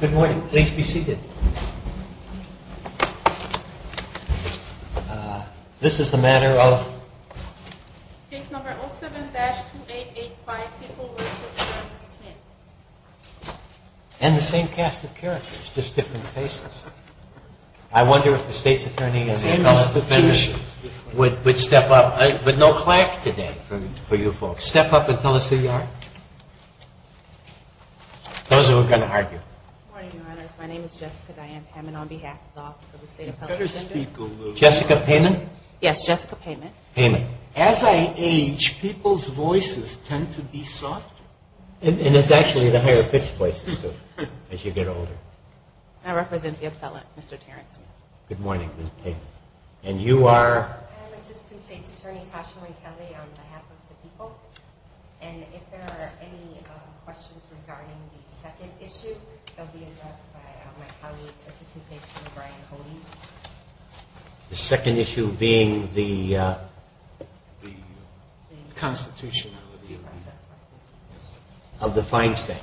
Good morning. Please be seated. This is the matter of case number 07-2885, people v. Lawrence Smith. And the same cast of characters, just different faces. I wonder if the state's attorney and the appellate defender would step up. But no clack today for you folks. Step up and tell us who you are. Those who are going to argue. Good morning, your honors. My name is Jessica Diane Hammond on behalf of the office of the state appellate defender. You better speak a little louder. Jessica Payment? Yes, Jessica Payment. Payment. As I age, people's voices tend to be softer. And it's actually the higher pitched voices, too, as you get older. I represent the appellate, Mr. Terrence Smith. Good morning, Ms. Payment. And you are? I'm Assistant State's Attorney Tasha Rae Kelly on behalf of the people. And if there are any questions regarding the second issue, they'll be addressed by my colleague, Assistant State's Attorney Brian Coley. The second issue being the constitutionality of the fine statute.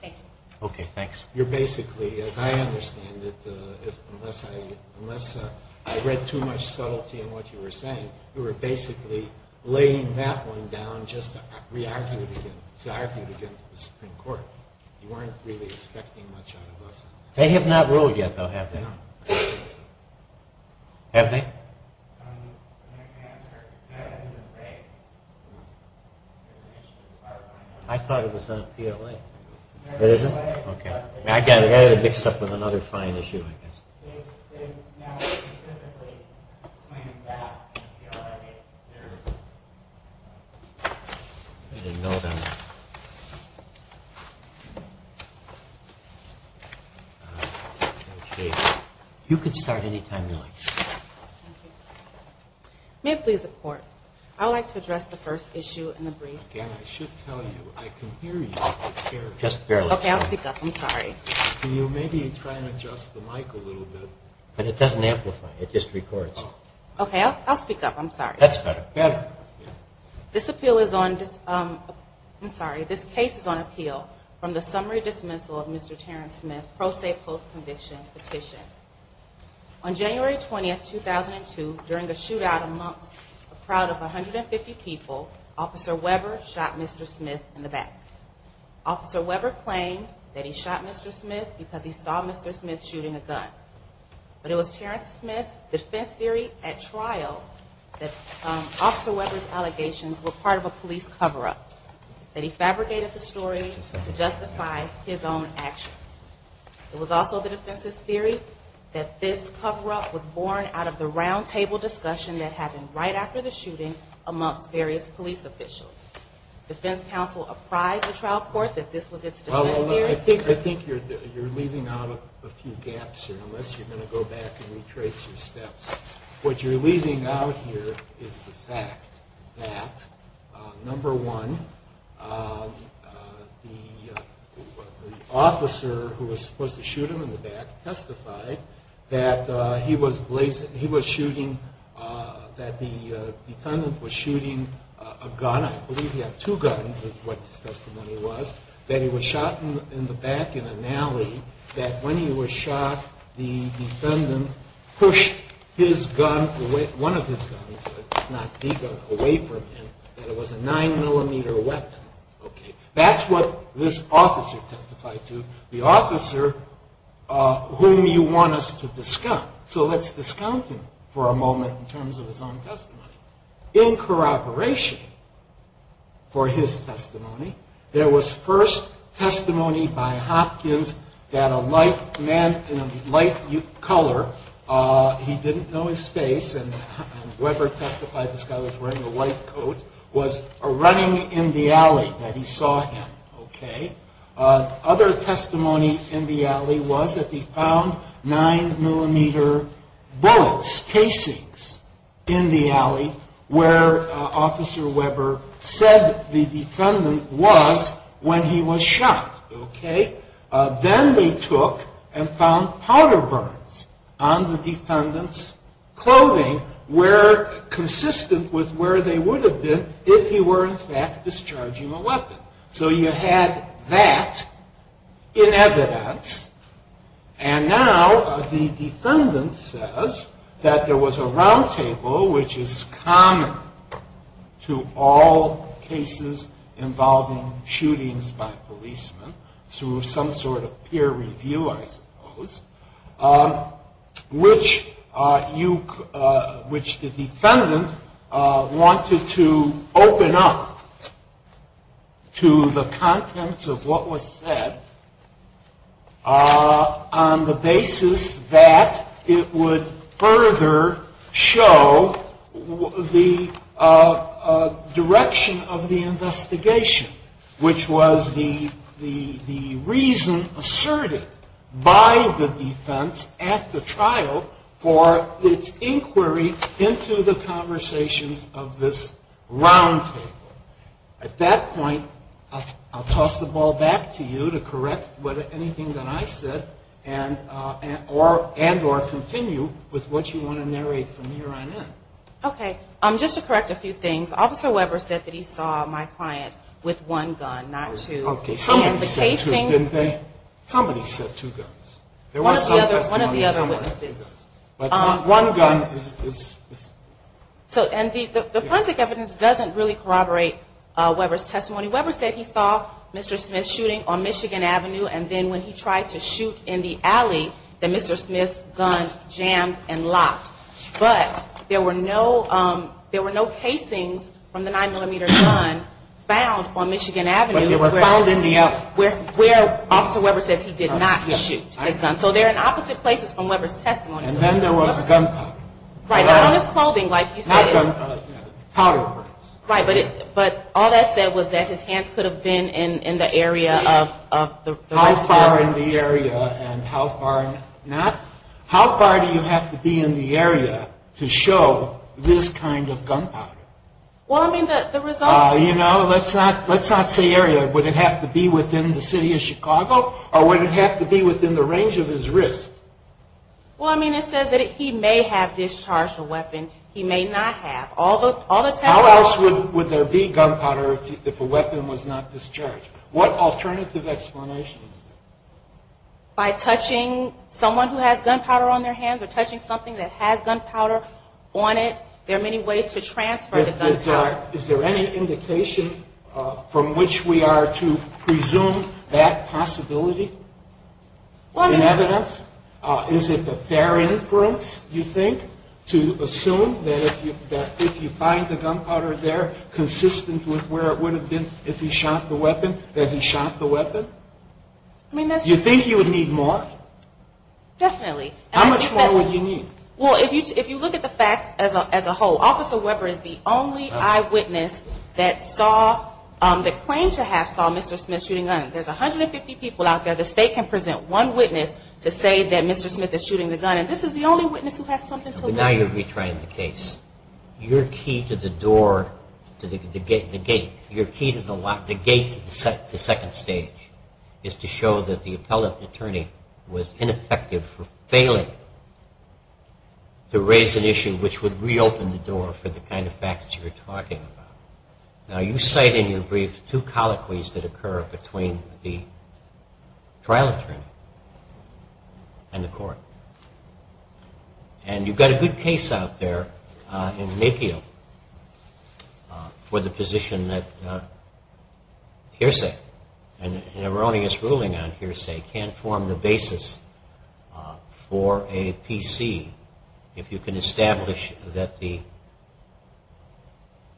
Thank you. Okay, thanks. You're basically, as I understand it, unless I read too much subtlety in what you were saying, you were basically laying that one down just to re-argue it again, to argue it again to the Supreme Court. You weren't really expecting much out of us. They have not ruled yet, though, have they? No. Have they? I can answer. It hasn't been raised. I thought it was on PLA. It isn't? Okay. I got it. I got it mixed up with another fine issue, I guess. They've now specifically claimed that on PLA. I didn't know that. Okay. You can start anytime you like. Thank you. May it please the Court, I would like to address the first issue in the brief. And I should tell you, I can hear you. Just barely. Okay, I'll speak up. I'm sorry. Can you maybe try and adjust the mic a little bit? It doesn't amplify. It just records. Okay, I'll speak up. I'm sorry. That's better. Better. This appeal is on, I'm sorry, this case is on appeal from the summary dismissal of Mr. Terrence Smith, pro se post conviction petition. On January 20, 2002, during a shootout amongst a crowd of 150 people, Officer Weber shot Mr. Smith in the back. Officer Weber claimed that he shot Mr. Smith because he saw Mr. Smith shooting a gun. But it was Terrence Smith's defense theory at trial that Officer Weber's allegations were part of a police cover-up, that he fabricated the story to justify his own actions. It was also the defense's theory that this cover-up was born out of the roundtable discussion that happened right after the shooting amongst various police officials. Defense counsel apprised the trial court that this was its defense theory. I think you're leaving out a few gaps here, unless you're going to go back and retrace your steps. What you're leaving out here is the fact that, number one, the officer who was supposed to shoot him in the back testified that he was shooting, that the defendant was shooting a gun, I believe he had two guns is what his testimony was, that he was shot in the back in an alley, that when he was shot, the defendant pushed one of his guns away from him, that it was a 9mm weapon. That's what this officer testified to, the officer whom you want us to discount. So let's discount him for a moment in terms of his own testimony. In corroboration for his testimony, there was first testimony by Hopkins that a man in a light color, he didn't know his face, and Weber testified this guy was wearing a white coat, was running in the alley, that he saw him. Other testimony in the alley was that he found 9mm bullets, casings, in the alley, where Officer Weber said the defendant was when he was shot. Then they took and found powder burns on the defendant's clothing, consistent with where they would have been if he were in fact discharging a weapon. So you had that in evidence, and now the defendant says that there was a roundtable, which is common to all cases involving shootings by policemen, through some sort of peer review I suppose, which the defendant wanted to open up to the contents of what was said on the basis that it would further show the direction of the investigation, which was the reason asserted by the defense at the trial for its inquiry into the conversations of this roundtable. At that point, I'll toss the ball back to you to correct anything that I said, and or continue with what you want to narrate from here on in. Okay, just to correct a few things, Officer Weber said that he saw my client with one gun, not two. Okay, somebody said two, didn't they? Somebody said two guns. One of the other witnesses. But one gun is... And the forensic evidence doesn't really corroborate Weber's testimony. Weber said he saw Mr. Smith shooting on Michigan Avenue, and then when he tried to shoot in the alley, that Mr. Smith's gun jammed and locked. But there were no casings from the 9mm gun found on Michigan Avenue. But they were found in the alley. Where Officer Weber says he did not shoot his gun. So they're in opposite places from Weber's testimony. And then there was a gun powder. Right, on his clothing, like you said. Powder. Right, but all that said was that his hands could have been in the area of... How far in the area and how far not? How far do you have to be in the area to show this kind of gun powder? Well, I mean, the results... You know, let's not say area. Would it have to be within the city of Chicago? Or would it have to be within the range of his wrist? Well, I mean, it says that he may have discharged a weapon. He may not have. How else would there be gun powder if a weapon was not discharged? What alternative explanation is there? By touching someone who has gun powder on their hands or touching something that has gun powder on it, there are many ways to transfer the gun powder. Is there any indication from which we are to presume that possibility in evidence? Is it a fair inference, you think, to assume that if you find the gun powder there, where it would have been if he shot the weapon, that he shot the weapon? I mean, that's... Do you think you would need more? Definitely. How much more would you need? Well, if you look at the facts as a whole, Officer Weber is the only eyewitness that saw, that claims to have saw Mr. Smith shooting a gun. There's 150 people out there. The state can present one witness to say that Mr. Smith is shooting the gun, and this is the only witness who has something to... Now you're betraying the case. Your key to the door... The gate. Your key to the lock... The gate to the second stage is to show that the appellate attorney was ineffective for failing to raise an issue which would reopen the door for the kind of facts you're talking about. Now you cite in your brief two colloquies that occur between the trial attorney and the court. And you've got a good case out there in Mayfield for the position that hearsay and an erroneous ruling on hearsay can't form the basis for a PC if you can establish that the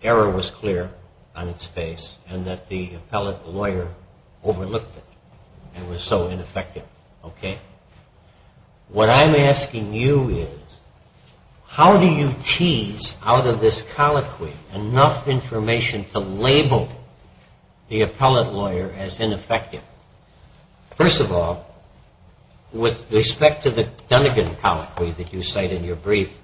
error was clear on its face and that the appellate lawyer overlooked it and was so ineffective. Okay? What I'm asking you is how do you tease out of this colloquy enough information to label the appellate lawyer as ineffective? First of all, with respect to the Dunigan colloquy that you cite in your brief,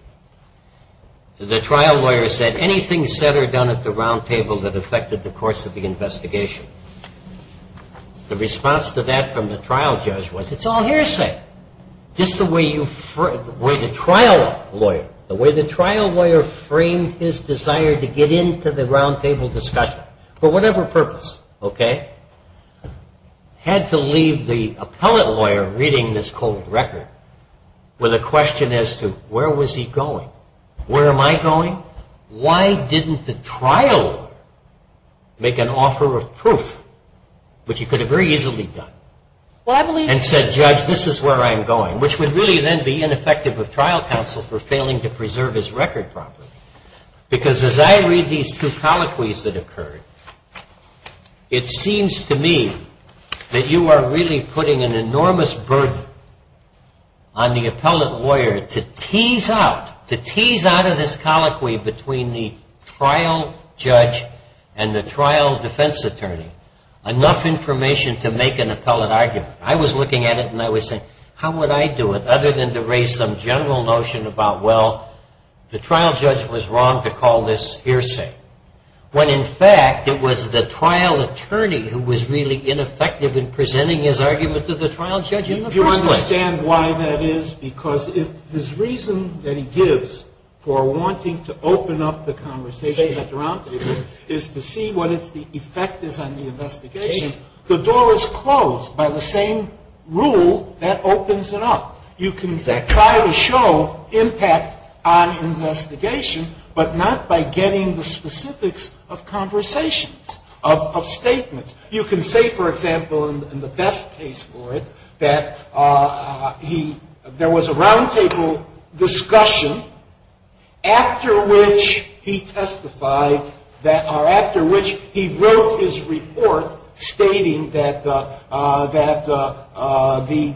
the trial lawyer said anything said or done at the roundtable that affected the course of the investigation. The response to that from the trial judge was, it's all hearsay. Just the way the trial lawyer framed his desire to get into the roundtable discussion for whatever purpose, okay, had to leave the appellate lawyer reading this cold record with a question as to where was he going? Where am I going? Why didn't the trial lawyer make an offer of proof, which he could have very easily done, and said, judge, this is where I'm going, which would really then be ineffective of trial counsel for failing to preserve his record properly. Because as I read these two colloquies that occurred, it seems to me that you are really putting an enormous burden on the appellate lawyer to tease out, out of this colloquy between the trial judge and the trial defense attorney, enough information to make an appellate argument. I was looking at it and I was saying, how would I do it, other than to raise some general notion about, well, the trial judge was wrong to call this hearsay, when in fact it was the trial attorney who was really ineffective in presenting his argument to the trial judge in the first place. Do you understand why that is? Because if his reason that he gives for wanting to open up the conversation at the round table is to see what the effect is on the investigation, the door is closed by the same rule that opens it up. You can try to show impact on investigation, but not by getting the specifics of conversations, of statements. You can say, for example, in the best case for it, that there was a round table discussion after which he testified, or after which he wrote his report stating that the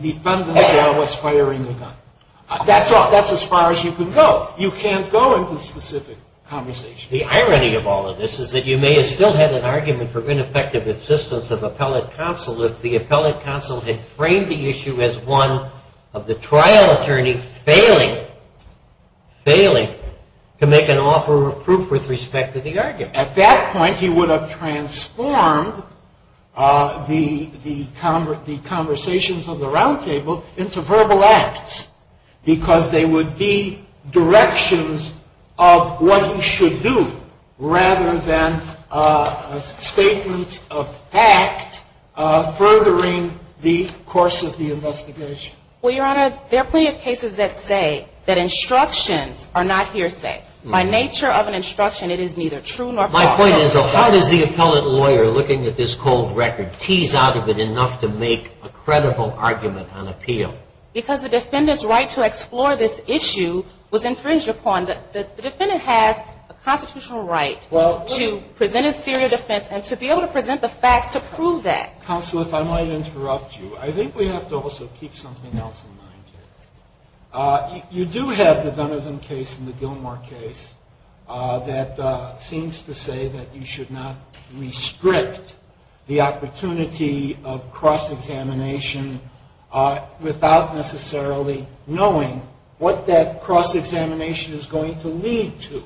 defendant there was firing a gun. That's as far as you can go. You can't go into specific conversations. The irony of all of this is that you may have still had an argument for ineffective assistance of appellate counsel if the appellate counsel had framed the issue as one of the trial attorney failing to make an offer of proof with respect to the argument. At that point, he would have transformed the conversations of the round table into verbal acts because they would be directions of what he should do rather than statements of fact furthering the course of the investigation. Well, Your Honor, there are plenty of cases that say that instructions are not hearsay. By nature of an instruction, it is neither true nor false. My point is, how does the appellate lawyer looking at this cold record tease out of it enough to make a credible argument on appeal? Because the defendant's right to explore this issue was infringed upon. The defendant has a constitutional right to present his theory of defense and to be able to present the facts to prove that. Counsel, if I might interrupt you. I think we have to also keep something else in mind here. You do have the Dunn-Ivan case and the Gilmore case that seems to say that you should not restrict the opportunity of cross-examination without necessarily knowing what that cross-examination is going to lead to.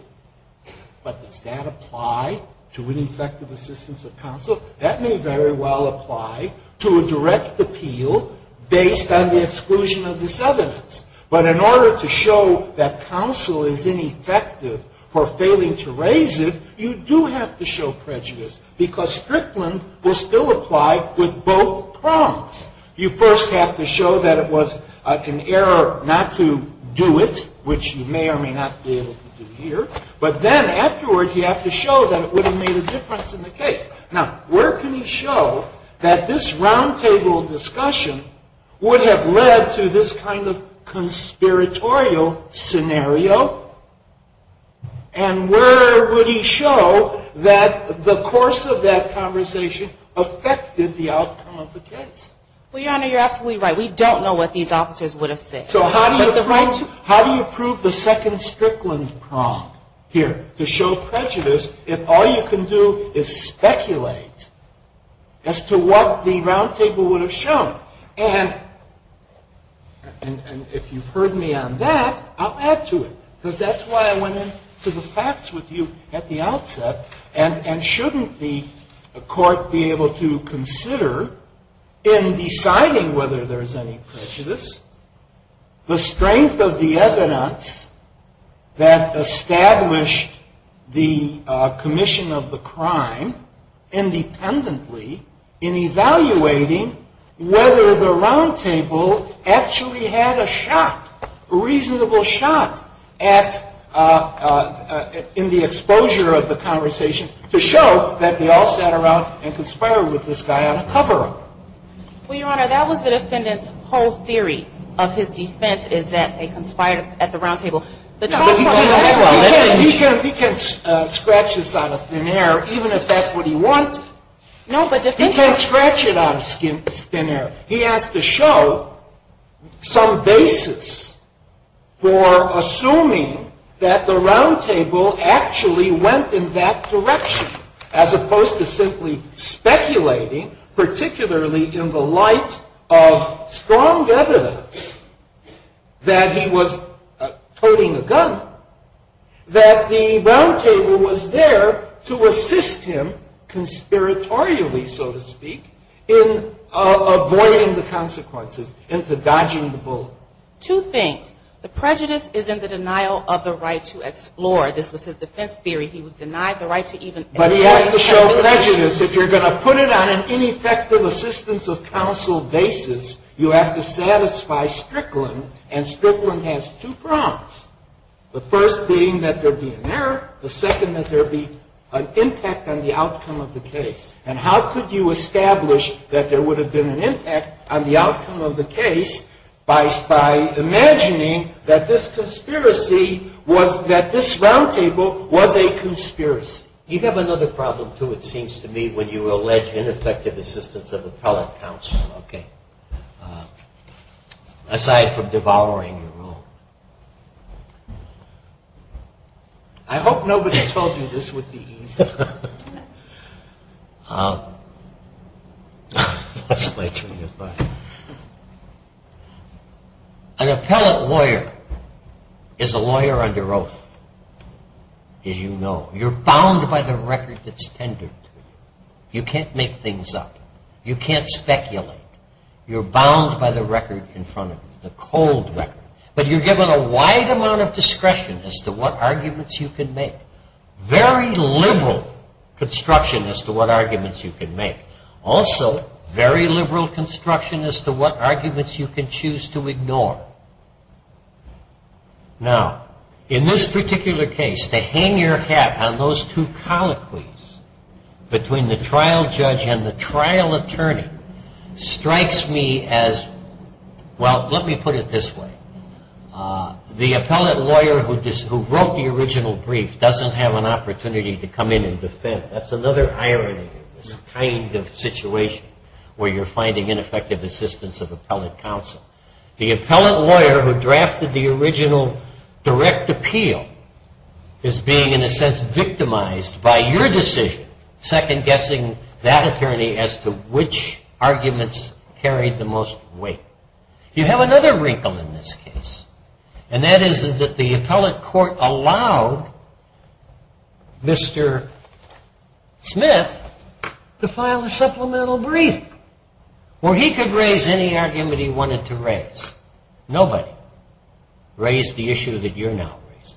But does that apply to ineffective assistance of counsel? That may very well apply to a direct appeal based on the exclusion of this evidence. But in order to show that counsel is ineffective for failing to raise it, you do have to show prejudice because Strickland will still apply with both prongs. You first have to show that it was an error not to do it, which you may or may not be able to do here. But then afterwards, you have to show that it would have made a difference in the case. Now, where can he show that this roundtable discussion would have led to this kind of conspiratorial scenario? And where would he show that the course of that conversation affected the outcome of the case? Well, Your Honor, you're absolutely right. We don't know what these officers would have said. So how do you prove the second Strickland prong here to show prejudice if all you can do is speculate as to what the roundtable would have shown? And if you've heard me on that, I'll add to it. Because that's why I went into the facts with you at the outset. And shouldn't the Court be able to consider in deciding whether there's any prejudice the strength of the evidence that established the commission of the crime independently in evaluating whether the roundtable actually had a shot, a reasonable shot in the exposure of the conversation to show that they all sat around and conspired with this guy on a cover-up? Well, Your Honor, that was the defendant's whole theory of his defense, is that they conspired at the roundtable. He can scratch this out of thin air even if that's what he wanted. He can't scratch it out of thin air. He has to show some basis for assuming that the roundtable actually went in that direction as opposed to simply speculating, particularly in the light of strong evidence that he was toting a gun, that the roundtable was there to assist him, conspiratorially, so to speak, in avoiding the consequences, into dodging the bullet. Two things. The prejudice is in the denial of the right to explore. This was his defense theory. He was denied the right to even explore. But he has to show prejudice. If you're going to put it on an ineffective assistance of counsel basis, you have to satisfy Strickland, and Strickland has two problems, the first being that there be an error, the second that there be an impact on the outcome of the case. And how could you establish that there would have been an impact on the outcome of the case by imagining that this roundtable was a conspiracy? You have another problem, too, it seems to me, when you allege ineffective assistance of appellate counsel. Okay. Aside from devouring your own. I hope nobody told you this would be easy. That's my turn to talk. An appellate lawyer is a lawyer under oath, as you know. You're bound by the record that's tendered to you. You can't make things up. You can't speculate. You're bound by the record in front of you, the cold record. But you're given a wide amount of discretion as to what arguments you can make. Very liberal construction as to what arguments you can make. Also, very liberal construction as to what arguments you can choose to ignore. Now, in this particular case, to hang your hat on those two colloquies, between the trial judge and the trial attorney, strikes me as, well, let me put it this way. The appellate lawyer who wrote the original brief doesn't have an opportunity to come in and defend. That's another irony of this kind of situation, where you're finding ineffective assistance of appellate counsel. The appellate lawyer who drafted the original direct appeal is being, in a sense, victimized by your decision, second-guessing that attorney as to which arguments carried the most weight. You have another wrinkle in this case, and that is that the appellate court allowed Mr. Smith to file a supplemental brief, where he could raise any argument he wanted to raise. Nobody raised the issue that you're now raising.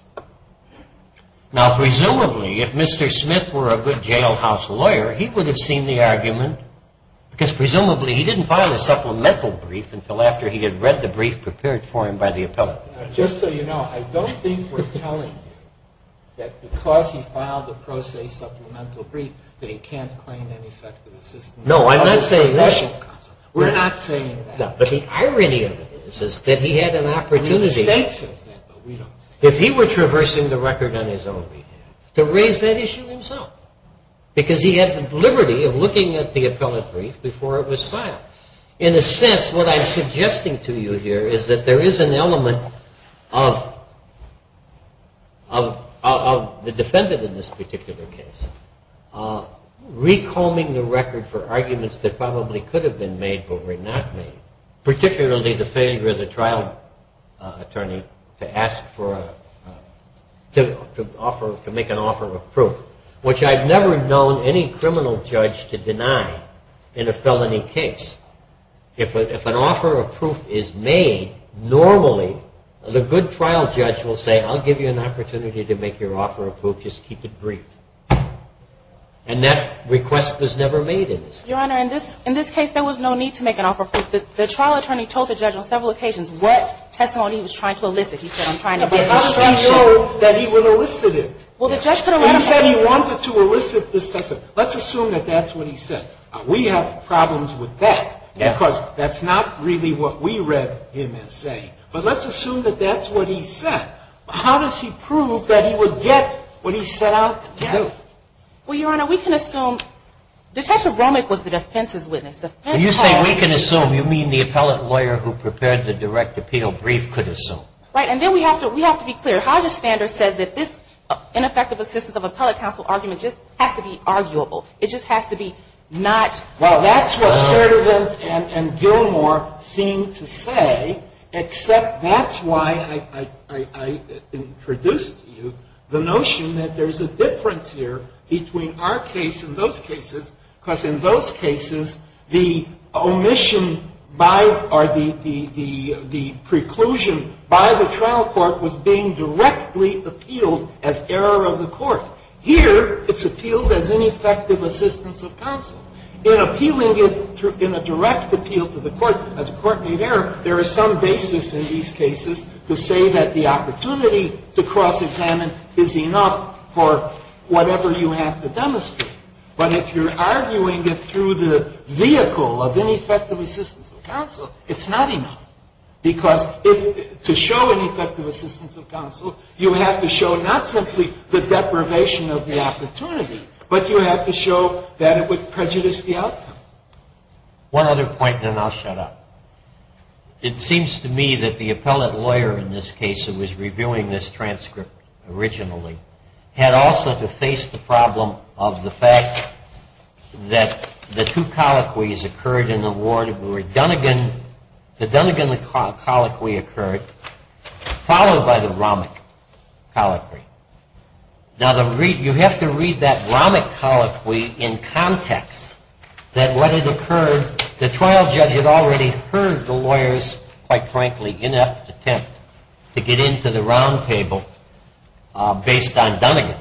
Now, presumably, if Mr. Smith were a good jailhouse lawyer, he would have seen the argument, because presumably he didn't file a supplemental brief until after he had read the brief prepared for him by the appellate lawyer. Just so you know, I don't think we're telling you that because he filed a pro se supplemental brief that he can't claim ineffective assistance of appellate counsel. No, I'm not saying that. We're not saying that. But the irony of it is that he had an opportunity. The state says that, but we don't say that. If he were traversing the record on his own behalf, to raise that issue himself, because he had the liberty of looking at the appellate brief before it was filed. In a sense, what I'm suggesting to you here is that there is an element of the defendant in this particular case recombing the record for arguments that probably could have been made but were not made, particularly the failure of the trial attorney to make an offer of proof, which I've never known any criminal judge to deny in a felony case. If an offer of proof is made, normally the good trial judge will say, I'll give you an opportunity to make your offer of proof. Just keep it brief. And that request was never made in this case. Your Honor, in this case there was no need to make an offer of proof. The trial attorney told the judge on several occasions what testimony he was trying to elicit. He said, I'm trying to get institutions. But how do you know that he would elicit it? He said he wanted to elicit this testimony. Let's assume that that's what he said. We have problems with that. Because that's not really what we read him as saying. But let's assume that that's what he said. But how does he prove that he would get what he set out to do? Well, Your Honor, we can assume. Detective Romick was the defense's witness. When you say we can assume, you mean the appellate lawyer who prepared the direct appeal brief could assume. Right. And then we have to be clear. Hodges-Standard says that this ineffective assistance of appellate counsel argument just has to be arguable. It just has to be not. Well, that's what Sturdivant and Gilmore seem to say, except that's why I introduced to you the notion that there's a difference here between our case and those cases, because in those cases, the omission by or the preclusion by the trial court was being directly appealed as error of the court. Here it's appealed as ineffective assistance of counsel. In appealing it in a direct appeal to the court, the court made error, there is some basis in these cases to say that the opportunity to cross-examine is enough for whatever you have to demonstrate. But if you're arguing it through the vehicle of ineffective assistance of counsel, it's not enough, because to show ineffective assistance of counsel, you have to show not simply the deprivation of the opportunity, but you have to show that it would prejudice the outcome. One other point, and then I'll shut up. It seems to me that the appellate lawyer in this case who was reviewing this transcript originally had also to face the problem of the fact that the two colloquies occurred in the ward where Dunnegan, the Dunnegan colloquy occurred, followed by the Romick colloquy. Now, you have to read that Romick colloquy in context that what had occurred, the trial judge had already heard the lawyer's, quite frankly, inept attempt to get into the roundtable based on Dunnegan.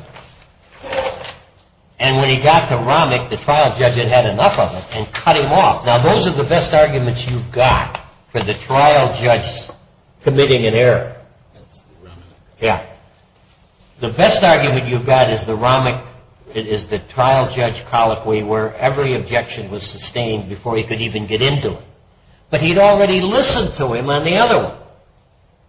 And when he got to Romick, the trial judge had had enough of it and cut him off. Now, those are the best arguments you've got for the trial judge committing an error. Yeah. The best argument you've got is the Romick, it is the trial judge colloquy where every objection was sustained before he could even get into it. But he'd already listened to him on the other one.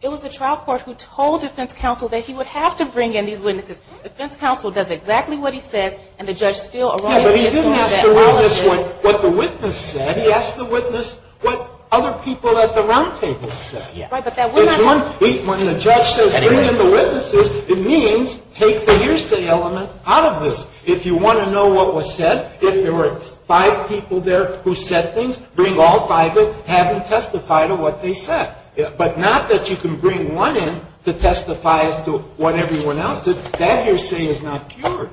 It was the trial court who told defense counsel that he would have to bring in these witnesses. Defense counsel does exactly what he says, and the judge still erroneously is told that all of this. Yeah, but he didn't ask to bring in what the witness said. He asked the witness what other people at the roundtable said. Yeah. Right, but that would not. When the judge says bring in the witnesses, it means take the hearsay element out of this. If you want to know what was said, if there were five people there who said things, bring all five in, have them testify to what they said. But not that you can bring one in to testify as to what everyone else did. That hearsay is not cured.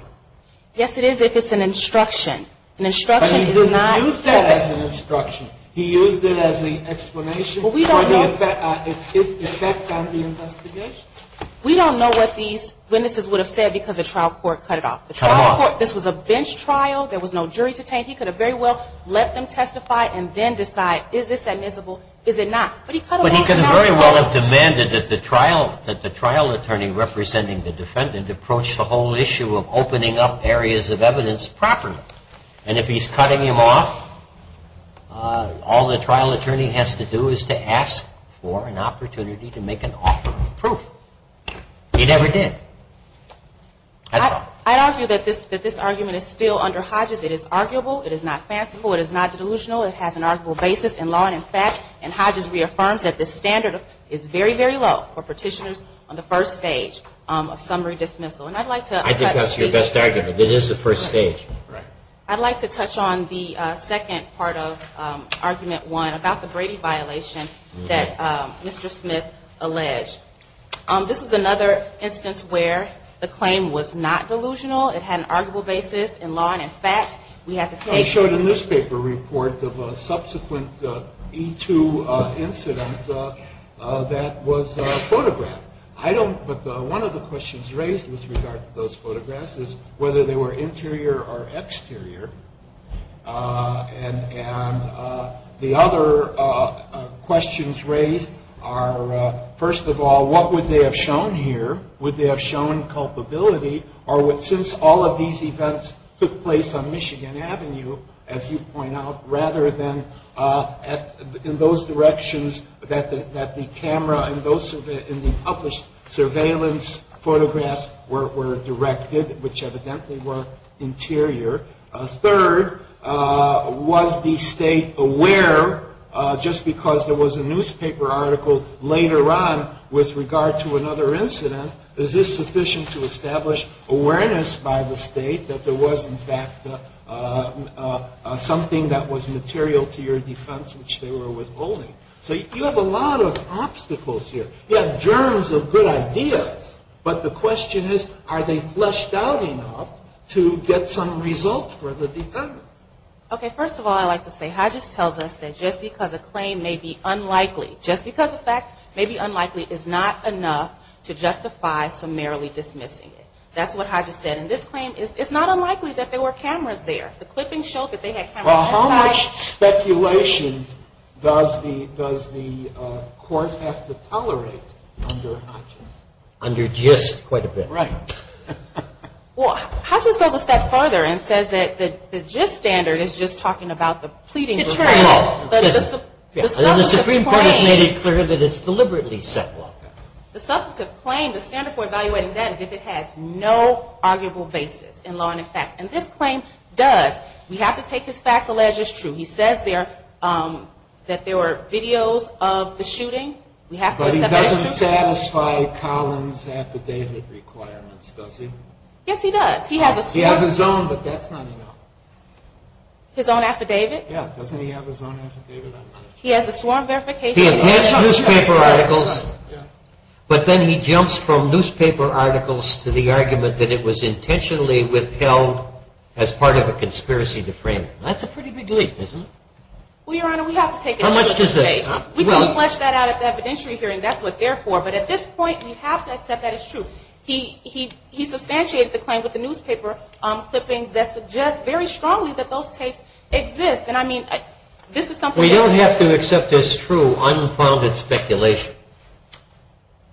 Yes, it is if it's an instruction. An instruction is not. But he didn't use that as an instruction. He used it as the explanation. We don't know what these witnesses would have said because the trial court cut it off. The trial court, this was a bench trial. There was no jury to taint. He could have very well let them testify and then decide is this admissible, is it not. But he cut it off. But he could very well have demanded that the trial attorney representing the defendant approach the whole issue of opening up areas of evidence properly. And if he's cutting him off, all the trial attorney has to do is to ask for an opportunity to make an offer of proof. He never did. I'd argue that this argument is still under Hodges. It is arguable. It is not fanciful. It is not delusional. It has an arguable basis in law and in fact. And Hodges reaffirms that the standard is very, very low for petitioners on the first stage of summary dismissal. I think that's your best argument. It is the first stage. I'd like to touch on the second part of argument one about the Brady violation that Mr. Smith alleged. This is another instance where the claim was not delusional. It had an arguable basis in law and in fact. We have to take. I showed a newspaper report of a subsequent E2 incident that was photographed. I don't. But one of the questions raised with regard to those photographs is whether they were interior or exterior. And the other questions raised are, first of all, what would they have shown here? Would they have shown culpability? Or since all of these events took place on Michigan Avenue, as you point out, rather than in those directions that the camera and the published surveillance photographs were directed, which evidently were interior. Third, was the state aware, just because there was a newspaper article later on with regard to another incident, is this sufficient to establish awareness by the state that there was, in fact, something that was material to your defense which they were withholding? So you have a lot of obstacles here. You have germs of good ideas. But the question is, are they fleshed out enough to get some result for the defendant? Okay. First of all, I'd like to say Hodges tells us that just because a claim may be unlikely, just because a fact may be unlikely is not enough to justify summarily dismissing it. That's what Hodges said. And this claim is, it's not unlikely that there were cameras there. The clippings show that they had cameras. Well, how much speculation does the court have to tolerate under Hodges? Under GIST quite a bit. Right. Well, Hodges goes a step further and says that the GIST standard is just talking about the pleadings. The Supreme Court has made it clear that it's deliberately set like that. The substantive claim, the standard for evaluating that is if it has no arguable basis in law and in facts. And this claim does. We have to take his facts alleged as true. He says that there were videos of the shooting. But he doesn't satisfy Collins' affidavit requirements, does he? Yes, he does. He has his own, but that's not enough. His own affidavit? Yeah, doesn't he have his own affidavit? He has the sworn verification. He has newspaper articles, but then he jumps from newspaper articles to the argument that it was intentionally withheld as part of a conspiracy to frame him. That's a pretty big leap, isn't it? Well, Your Honor, we have to take it. How much does it take? We can flesh that out at the evidentiary hearing. That's what they're for. But at this point, we have to accept that it's true. He substantiated the claim with the newspaper clippings that suggest very strongly that those tapes exist. And, I mean, this is something that we don't have to accept as true, unfounded speculation.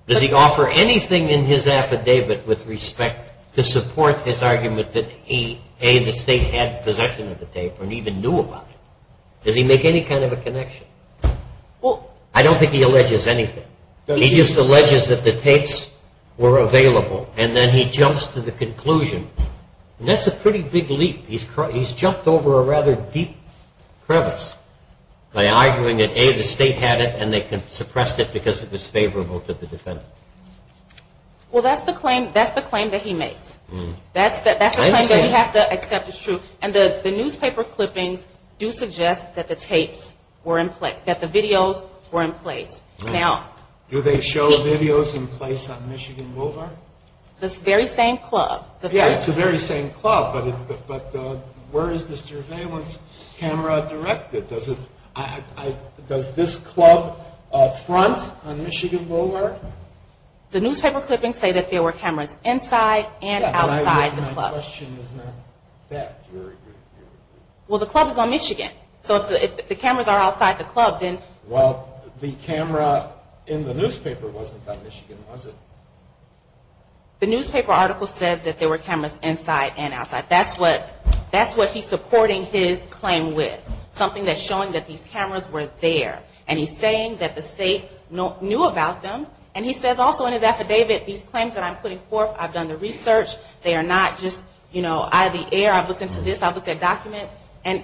Does he offer anything in his affidavit with respect to support his argument that, A, the state had possession of the tape or even knew about it? Does he make any kind of a connection? I don't think he alleges anything. He just alleges that the tapes were available, and then he jumps to the conclusion. And that's a pretty big leap. He's jumped over a rather deep crevice by arguing that, A, the state had it and they suppressed it because it was favorable to the defendant. Well, that's the claim that he makes. That's the claim that we have to accept as true. And the newspaper clippings do suggest that the tapes were in place, that the videos were in place. Do they show videos in place on Michigan Boulevard? The very same club. Yes, the very same club, but where is the surveillance camera directed? Does this club front on Michigan Boulevard? The newspaper clippings say that there were cameras inside and outside the club. My question is not that. Well, the club is on Michigan. So if the cameras are outside the club, then... Well, the camera in the newspaper wasn't on Michigan, was it? The newspaper article says that there were cameras inside and outside. That's what he's supporting his claim with, something that's showing that these cameras were there. And he's saying that the state knew about them. And he says also in his affidavit, these claims that I'm putting forth, I've done the research. They are not just, you know, out of the air. I've looked into this. I've looked at documents. And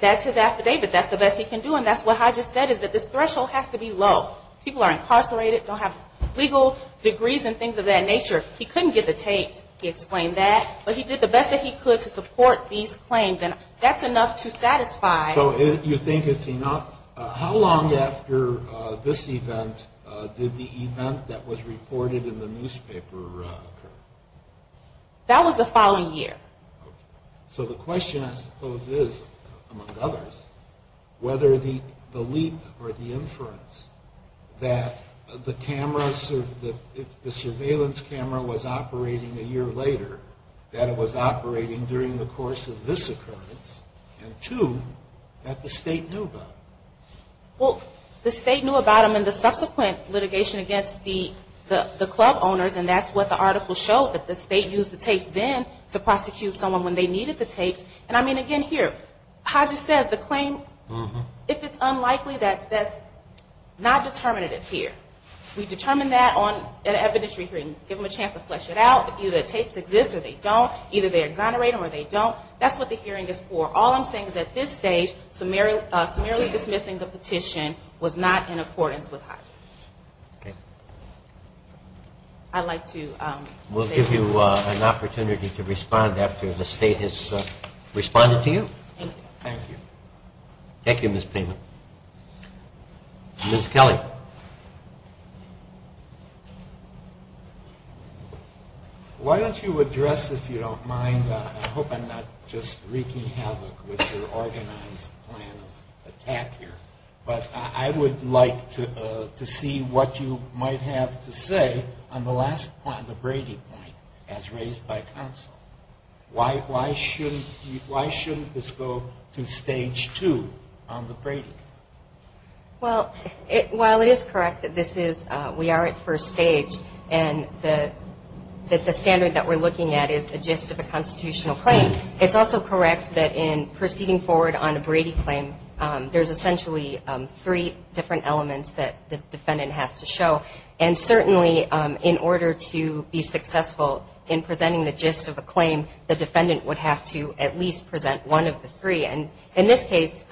that's his affidavit. That's the best he can do. And that's what I just said, is that this threshold has to be low. People are incarcerated, don't have legal degrees and things of that nature. He couldn't get the tapes. He explained that. But he did the best that he could to support these claims. And that's enough to satisfy... So you think it's enough? How long after this event did the event that was reported in the newspaper occur? That was the following year. So the question, I suppose, is, among others, whether the leap or the inference that the surveillance camera was operating a year later, that it was operating during the course of this occurrence, and two, that the state knew about it. Well, the state knew about them in the subsequent litigation against the club owners. And that's what the article showed, that the state used the tapes then to prosecute someone when they needed the tapes. And, I mean, again, here, Haja says the claim, if it's unlikely, that's not determinative here. We determine that on an evidentiary hearing. Give them a chance to flesh it out. Either the tapes exist or they don't. Either they exonerate them or they don't. That's what the hearing is for. All I'm saying is at this stage, summarily dismissing the petition was not in accordance with Haja. Okay. I'd like to say thank you. We'll give you an opportunity to respond after the state has responded to you. Thank you. Thank you. Thank you, Ms. Pena. Ms. Kelly. Why don't you address, if you don't mind, I hope I'm not just wreaking havoc with your organized plan of attack here, but I would like to see what you might have to say on the last point, the Brady point, as raised by counsel. Why shouldn't this go to stage two on the Brady claim? Well, while it is correct that we are at first stage and that the standard that we're looking at is a gist of a constitutional claim, it's also correct that in proceeding forward on a Brady claim, there's essentially three different elements that the defendant has to show. And certainly in order to be successful in presenting the gist of a claim, the defendant would have to at least present one of the three. And in this case,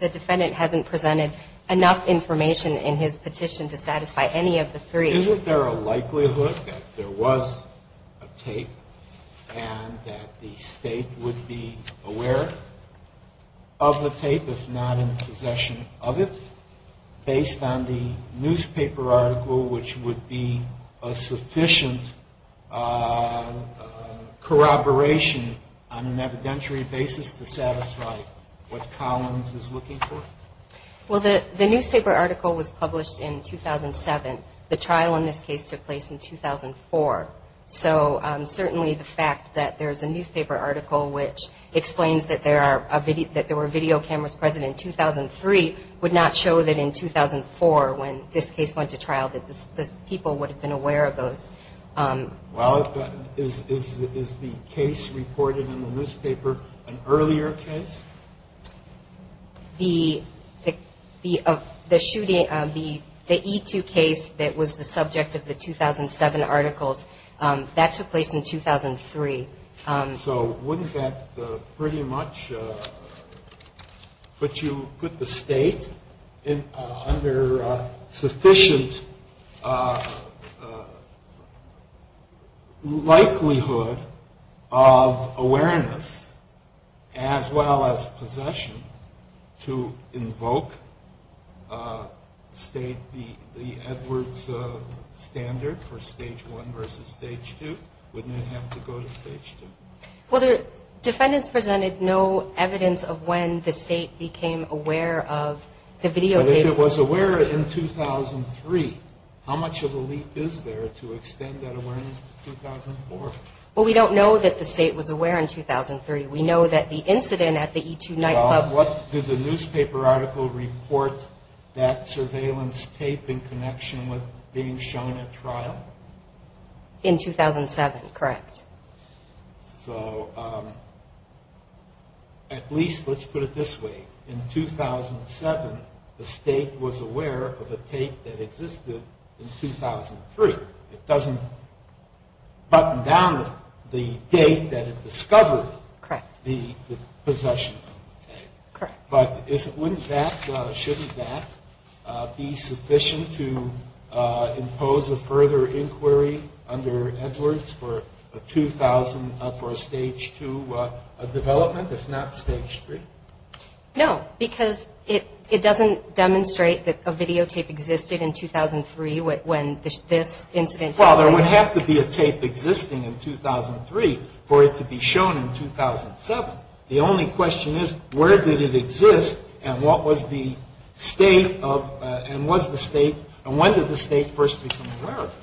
the defendant hasn't presented enough information in his petition to satisfy any of the three. Isn't there a likelihood that there was a tape and that the state would be aware of the tape, if not in possession of it, based on the newspaper article, which would be a sufficient corroboration on an evidentiary basis to satisfy what Collins is looking for? Well, the newspaper article was published in 2007. The trial in this case took place in 2004. So certainly the fact that there's a newspaper article which explains that there were video cameras present in 2003 would not show that in 2004, when this case went to trial, that the people would have been aware of those. Well, is the case reported in the newspaper an earlier case? The E2 case that was the subject of the 2007 articles, that took place in 2003. So wouldn't that pretty much put the state under sufficient likelihood of awareness, as well as possession, to invoke the Edwards standard for Stage 1 versus Stage 2? Wouldn't it have to go to Stage 2? Well, the defendants presented no evidence of when the state became aware of the videotapes. But if it was aware in 2003, how much of a leap is there to extend that awareness to 2004? Well, we don't know that the state was aware in 2003. We know that the incident at the E2 nightclub... Well, what did the newspaper article report that surveillance tape in connection with being shown at trial? In 2007, correct. So at least, let's put it this way. In 2007, the state was aware of a tape that existed in 2003. It doesn't button down the date that it discovered the possession of the tape. But wouldn't that, shouldn't that be sufficient to impose a further inquiry under Edwards for a 2000, for a Stage 2 development, if not Stage 3? No, because it doesn't demonstrate that a videotape existed in 2003 when this incident took place. Well, there would have to be a tape existing in 2003 for it to be shown in 2007. The only question is, where did it exist and what was the state of, and was the state, and when did the state first become aware of it?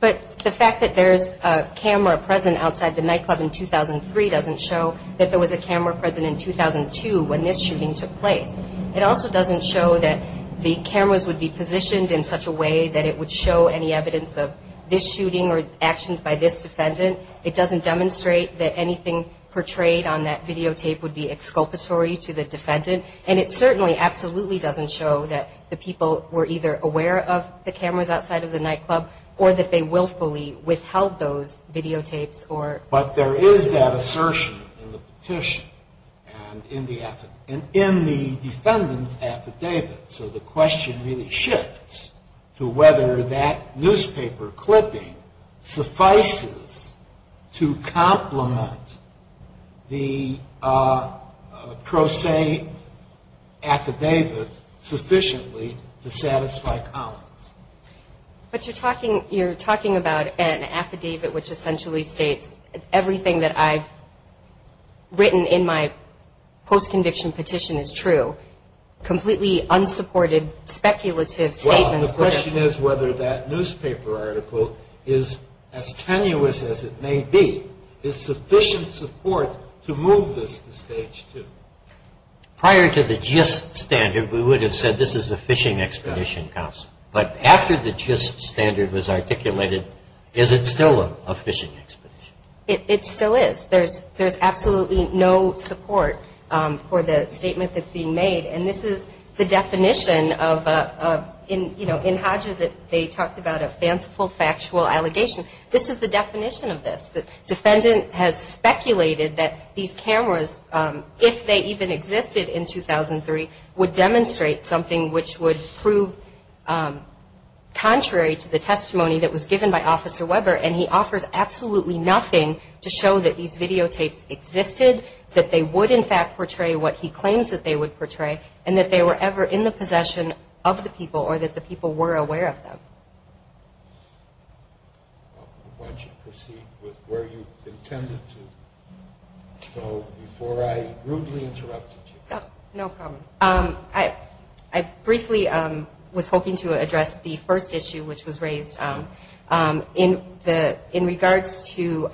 But the fact that there's a camera present outside the nightclub in 2003 doesn't show that there was a camera present in 2002 when this shooting took place. It also doesn't show that the cameras would be positioned in such a way that it would show any evidence of this shooting or actions by this defendant. It doesn't demonstrate that anything portrayed on that videotape would be exculpatory to the defendant. And it certainly absolutely doesn't show that the people were either aware of the cameras outside of the nightclub or that they willfully withheld those videotapes or... But there is that assertion in the petition and in the defendant's affidavit. So the question really shifts to whether that newspaper clipping suffices to complement the pro se affidavit sufficiently to satisfy Collins. But you're talking about an affidavit which essentially states everything that I've written in my post-conviction petition is true. Completely unsupported, speculative statements... Well, the question is whether that newspaper article is as tenuous as it may be. Is sufficient support to move this to stage two? Prior to the GIST standard, we would have said this is a fishing expedition council. But after the GIST standard was articulated, is it still a fishing expedition? It still is. There's absolutely no support for the statement that's being made. And this is the definition of... In Hodges, they talked about a fanciful factual allegation. This is the definition of this. The defendant has speculated that these cameras, if they even existed in 2003, would demonstrate something which would prove contrary to the testimony that was given by Officer Weber. And he offers absolutely nothing to show that these videotapes existed, that they would, in fact, portray what he claims that they would portray, and that they were ever in the possession of the people or that the people were aware of them. Why don't you proceed with where you intended to go before I rudely interrupted you? No problem. I briefly was hoping to address the first issue which was raised in regards to...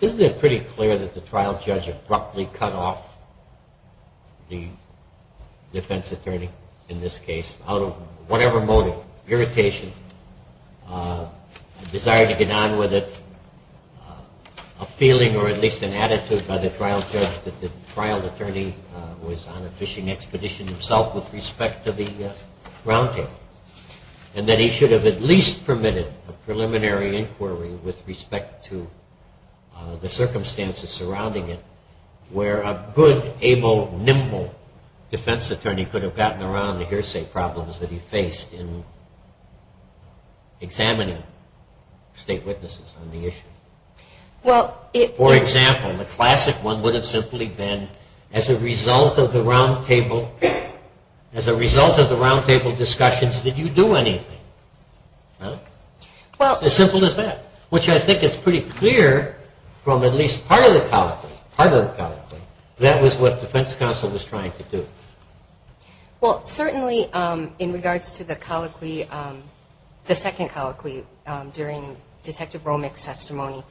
Isn't it pretty clear that the trial judge abruptly cut off the defense attorney in this case out of whatever motive, irritation, desire to get on with it, a feeling or at least an attitude by the trial judge that the trial attorney was on a fishing expedition himself with respect to the round table, and that he should have at least permitted a preliminary inquiry with respect to the circumstances surrounding it where a good, able, nimble defense attorney could have gotten around the hearsay problems that he faced in examining state witnesses on the issue? For example, the classic one would have simply been as a result of the round table discussions, did you do anything? It's as simple as that, which I think is pretty clear from at least part of the colloquy. That was what the defense counsel was trying to do. Well, certainly in regards to the colloquy, the second colloquy during Detective Romick's testimony,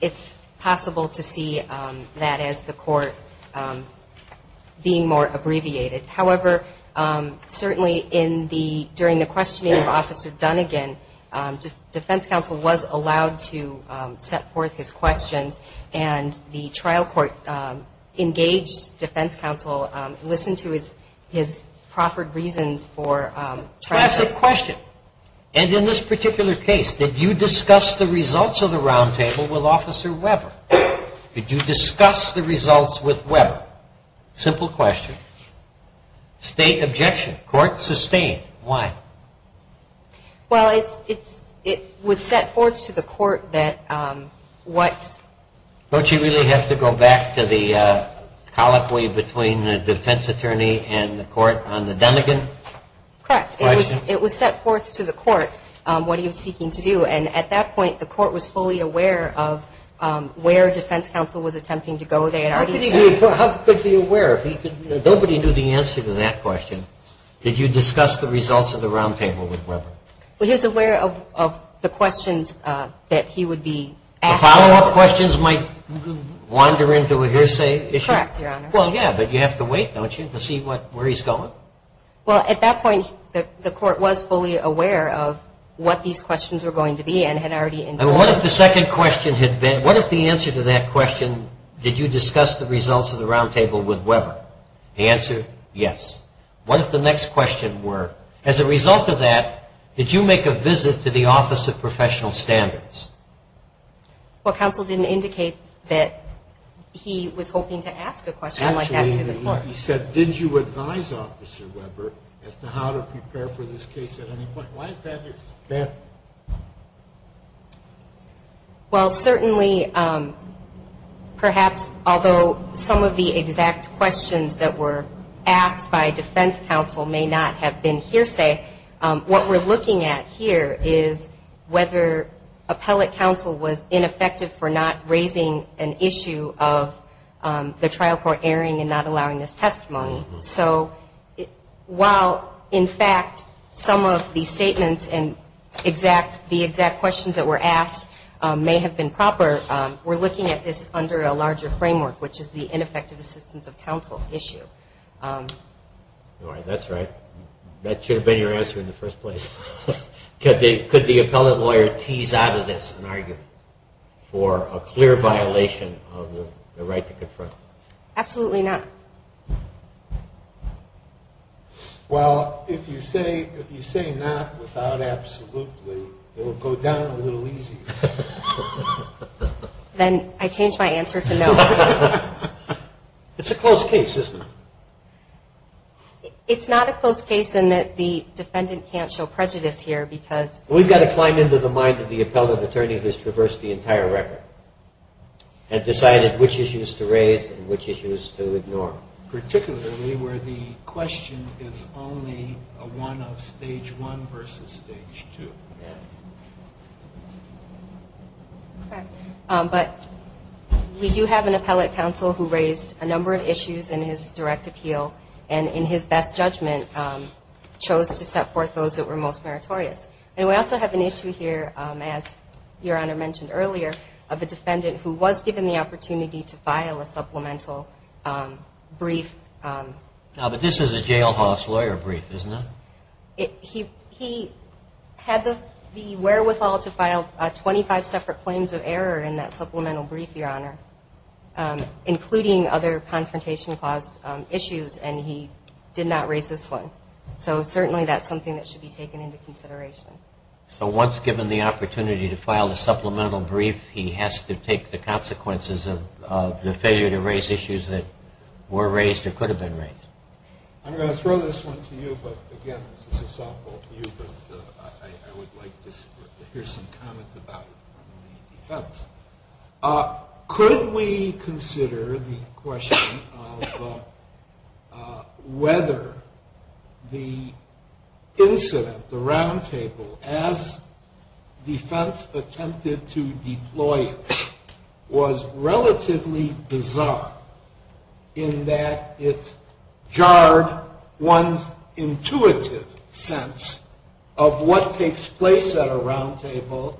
it's possible to see that as the court being more abbreviated. However, certainly during the questioning of Officer Dunnigan, defense counsel was allowed to set forth his questions, and the trial court engaged defense counsel, listened to his proffered reasons for trying to- Classic question. And in this particular case, did you discuss the results of the round table with Officer Weber? Did you discuss the results with Weber? Simple question. State objection. Court sustained. Why? Well, it was set forth to the court that what- Don't you really have to go back to the colloquy between the defense attorney and the court on the Dunnigan question? Correct. It was set forth to the court what he was seeking to do, and at that point the court was fully aware of where defense counsel was attempting to go there. How could he be aware? Nobody knew the answer to that question. Did you discuss the results of the round table with Weber? Well, he was aware of the questions that he would be asking. The follow-up questions might wander into a hearsay issue. Correct, Your Honor. Well, yeah, but you have to wait, don't you, to see where he's going? Well, at that point the court was fully aware of what these questions were going to be and had already- And what if the second question had been, what if the answer to that question, did you discuss the results of the round table with Weber? The answer, yes. What if the next question were, as a result of that, did you make a visit to the Office of Professional Standards? Well, counsel didn't indicate that he was hoping to ask a question like that to the court. Actually, he said, did you advise Officer Weber as to how to prepare for this case at any point? Why is that your concern? Well, certainly, perhaps, although some of the exact questions that were asked by defense counsel may not have been hearsay, what we're looking at here is whether appellate counsel was ineffective for not raising an issue of the trial court airing and not allowing this testimony. So while, in fact, some of the statements and the exact questions that were asked may have been proper, we're looking at this under a larger framework, which is the ineffective assistance of counsel issue. All right, that's right. That should have been your answer in the first place. Could the appellate lawyer tease out of this an argument for a clear violation of the right to confront? Absolutely not. Well, if you say not without absolutely, it will go down a little easier. Then I change my answer to no. It's a close case, isn't it? It's not a close case in that the defendant can't show prejudice here because... We've got to climb into the mind of the appellate attorney who's traversed the entire record and decided which issues to raise and which issues to ignore. Particularly where the question is only a one of stage one versus stage two. Yeah. But we do have an appellate counsel who raised a number of issues in his direct appeal and in his best judgment chose to set forth those that were most meritorious. And we also have an issue here, as Your Honor mentioned earlier, of a defendant who was given the opportunity to file a supplemental brief. But this is a jailhouse lawyer brief, isn't it? He had the wherewithal to file 25 separate claims of error in that supplemental brief, Your Honor, including other confrontation clause issues, and he did not raise this one. So certainly that's something that should be taken into consideration. So once given the opportunity to file a supplemental brief, he has to take the consequences of the failure to raise issues that were raised or could have been raised. I'm going to throw this one to you, but again, this is a softball to you, but I would like to hear some comment about it from the defense. Could we consider the question of whether the incident, the roundtable, as defense attempted to deploy it was relatively bizarre in that it jarred one's intuitive sense of what takes place at a roundtable,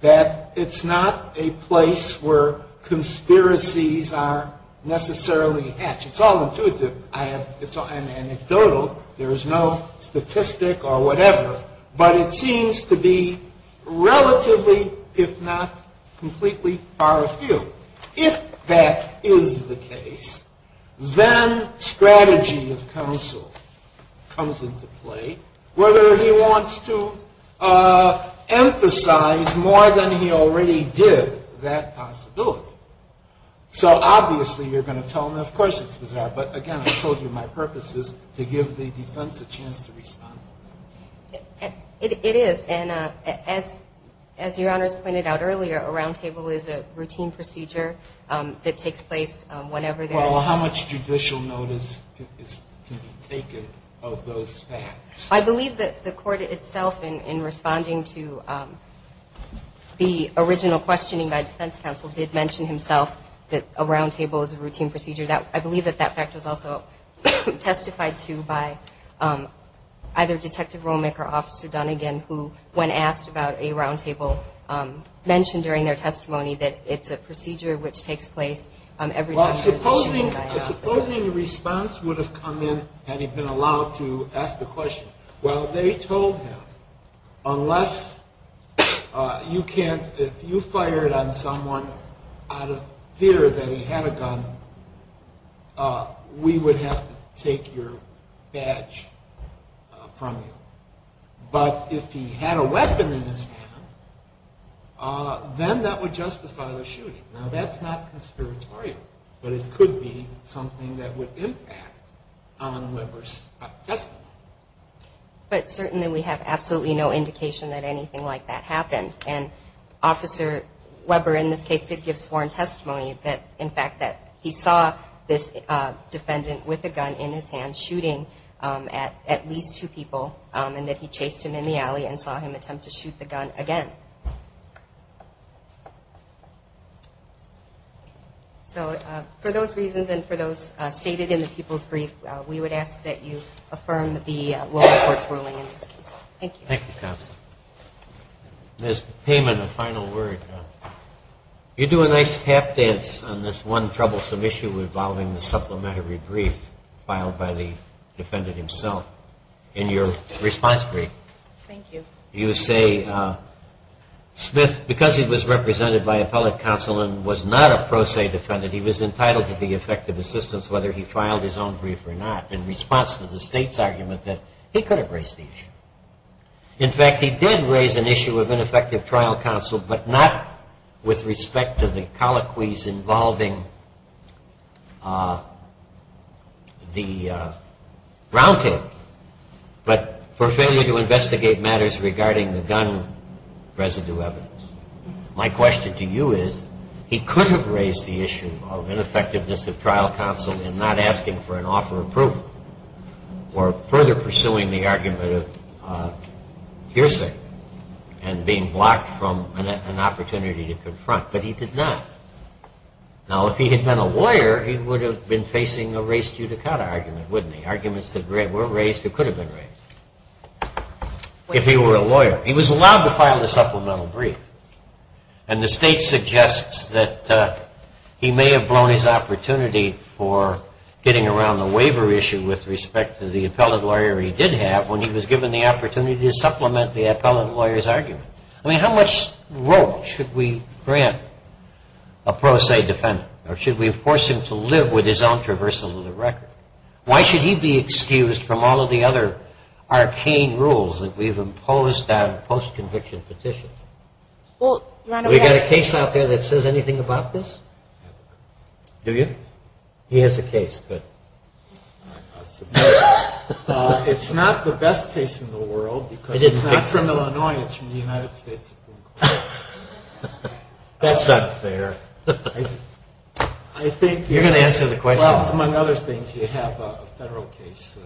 that it's not a place where conspiracies are necessarily hatched. It's all intuitive. It's anecdotal. There is no statistic or whatever, but it seems to be relatively, if not completely, far afield. If that is the case, then strategy of counsel comes into play, whether he wants to emphasize more than he already did that possibility. So obviously you're going to tell him, of course it's bizarre, but again, I told you my purpose is to give the defense a chance to respond. It is. And as your honors pointed out earlier, a roundtable is a routine procedure that takes place whenever there is. Well, how much judicial notice can be taken of those facts? I believe that the court itself, in responding to the original questioning by defense counsel, did mention himself that a roundtable is a routine procedure. I believe that that fact was also testified to by either Detective Romick or Officer Dunnigan, who, when asked about a roundtable, mentioned during their testimony that it's a procedure which takes place every time there is a shooting by an officer. Supposing a response would have come in had he been allowed to ask the question. Well, they told him, unless you can't, if you fired on someone out of fear that he had a gun, we would have to take your badge from you. But if he had a weapon in his hand, then that would justify the shooting. Now, that's not conspiratorial, but it could be something that would impact on Weber's testimony. But certainly we have absolutely no indication that anything like that happened. And Officer Weber, in this case, did give sworn testimony that, in fact, that he saw this defendant with a gun in his hand shooting at least two people, and that he chased him in the alley and saw him attempt to shoot the gun again. So for those reasons and for those stated in the people's brief, we would ask that you affirm the local court's ruling in this case. Thank you. Thank you, Counsel. As payment, a final word. You do a nice tap dance on this one troublesome issue involving the supplementary brief filed by the defendant himself. In your response brief. Thank you. You say Smith, because he was represented by appellate counsel and was not a pro se defendant, he was entitled to be effective assistance whether he filed his own brief or not, in response to the state's argument that he could have raised the issue. In fact, he did raise an issue of ineffective trial counsel, but not with respect to the colloquies involving the round table, but for failure to investigate matters regarding the gun residue evidence. My question to you is, he could have raised the issue of ineffectiveness of trial counsel in not asking for an offer of proof or further pursuing the argument of hearsay and being blocked from an opportunity to confront. But he did not. Now, if he had been a lawyer, he would have been facing a race judicata argument, wouldn't he? Arguments that were raised or could have been raised. If he were a lawyer. He was allowed to file the supplemental brief. And the state suggests that he may have blown his opportunity for getting around the waiver issue with respect to the appellate lawyer he did have when he was given the opportunity to supplement the appellate lawyer's argument. I mean, how much role should we grant a pro se defendant? Or should we force him to live with his own traversal of the record? Why should he be excused from all of the other arcane rules that we've imposed on post-conviction petitions? We got a case out there that says anything about this? Do you? He has a case, good. It's not the best case in the world because it's not from Illinois. It's from the United States Supreme Court. That's not fair. You're going to answer the question. Among other things, you have a federal case,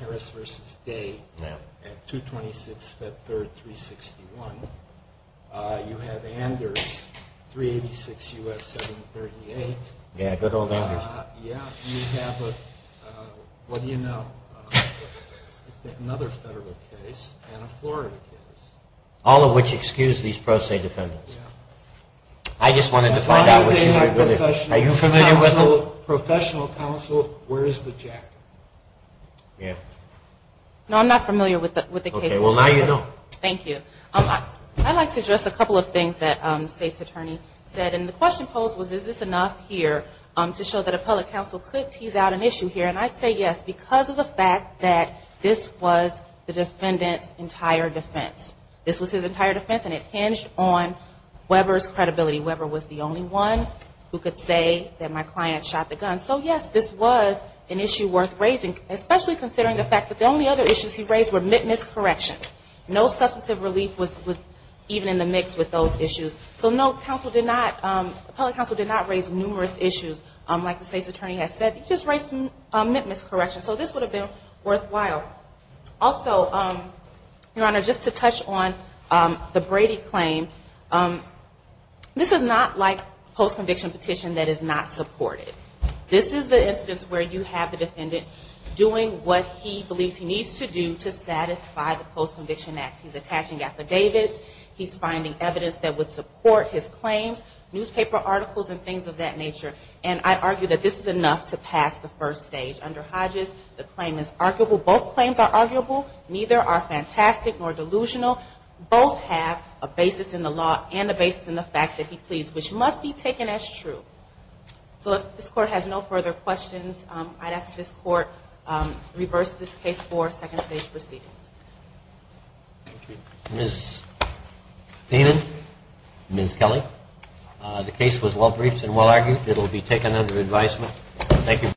Harris v. Day at 226 Fed Third 361. You have Anders, 386 U.S. 738. Yeah, good old Anders. You have another federal case and a Florida case. All of which excuse these pro se defendants. I just wanted to find out. Are you familiar with them? Professional counsel, where is the jack? Yeah. No, I'm not familiar with the case. Okay, well, now you know. Thank you. I'd like to address a couple of things that the state's attorney said. And the question posed was, is this enough here to show that appellate counsel could tease out an issue here? And I'd say yes because of the fact that this was the defendant's entire defense. This was his entire defense, and it hinged on Weber's credibility. Weber was the only one who could say that my client shot the gun. So, yes, this was an issue worth raising, especially considering the fact that the only other issues he raised were miscorrections. No substantive relief was even in the mix with those issues. So, no, counsel did not, appellate counsel did not raise numerous issues, like the state's attorney has said. He just raised miscorrections. So this would have been worthwhile. Also, Your Honor, just to touch on the Brady claim, this is not like post-conviction petition that is not supported. This is the instance where you have the defendant doing what he believes he needs to do to satisfy the post-conviction act. He's attaching affidavits. He's finding evidence that would support his claims, newspaper articles and things of that nature. And I argue that this is enough to pass the first stage. Under Hodges, the claim is arguable. Both claims are arguable. Neither are fantastic nor delusional. Both have a basis in the law and a basis in the fact that he pleads, which must be taken as true. So if this Court has no further questions, I'd ask this Court to reverse this case for second stage proceedings. Thank you. Ms. Paynen, Ms. Kelly, the case was well-briefed and well-argued. It will be taken under advisement. Thank you.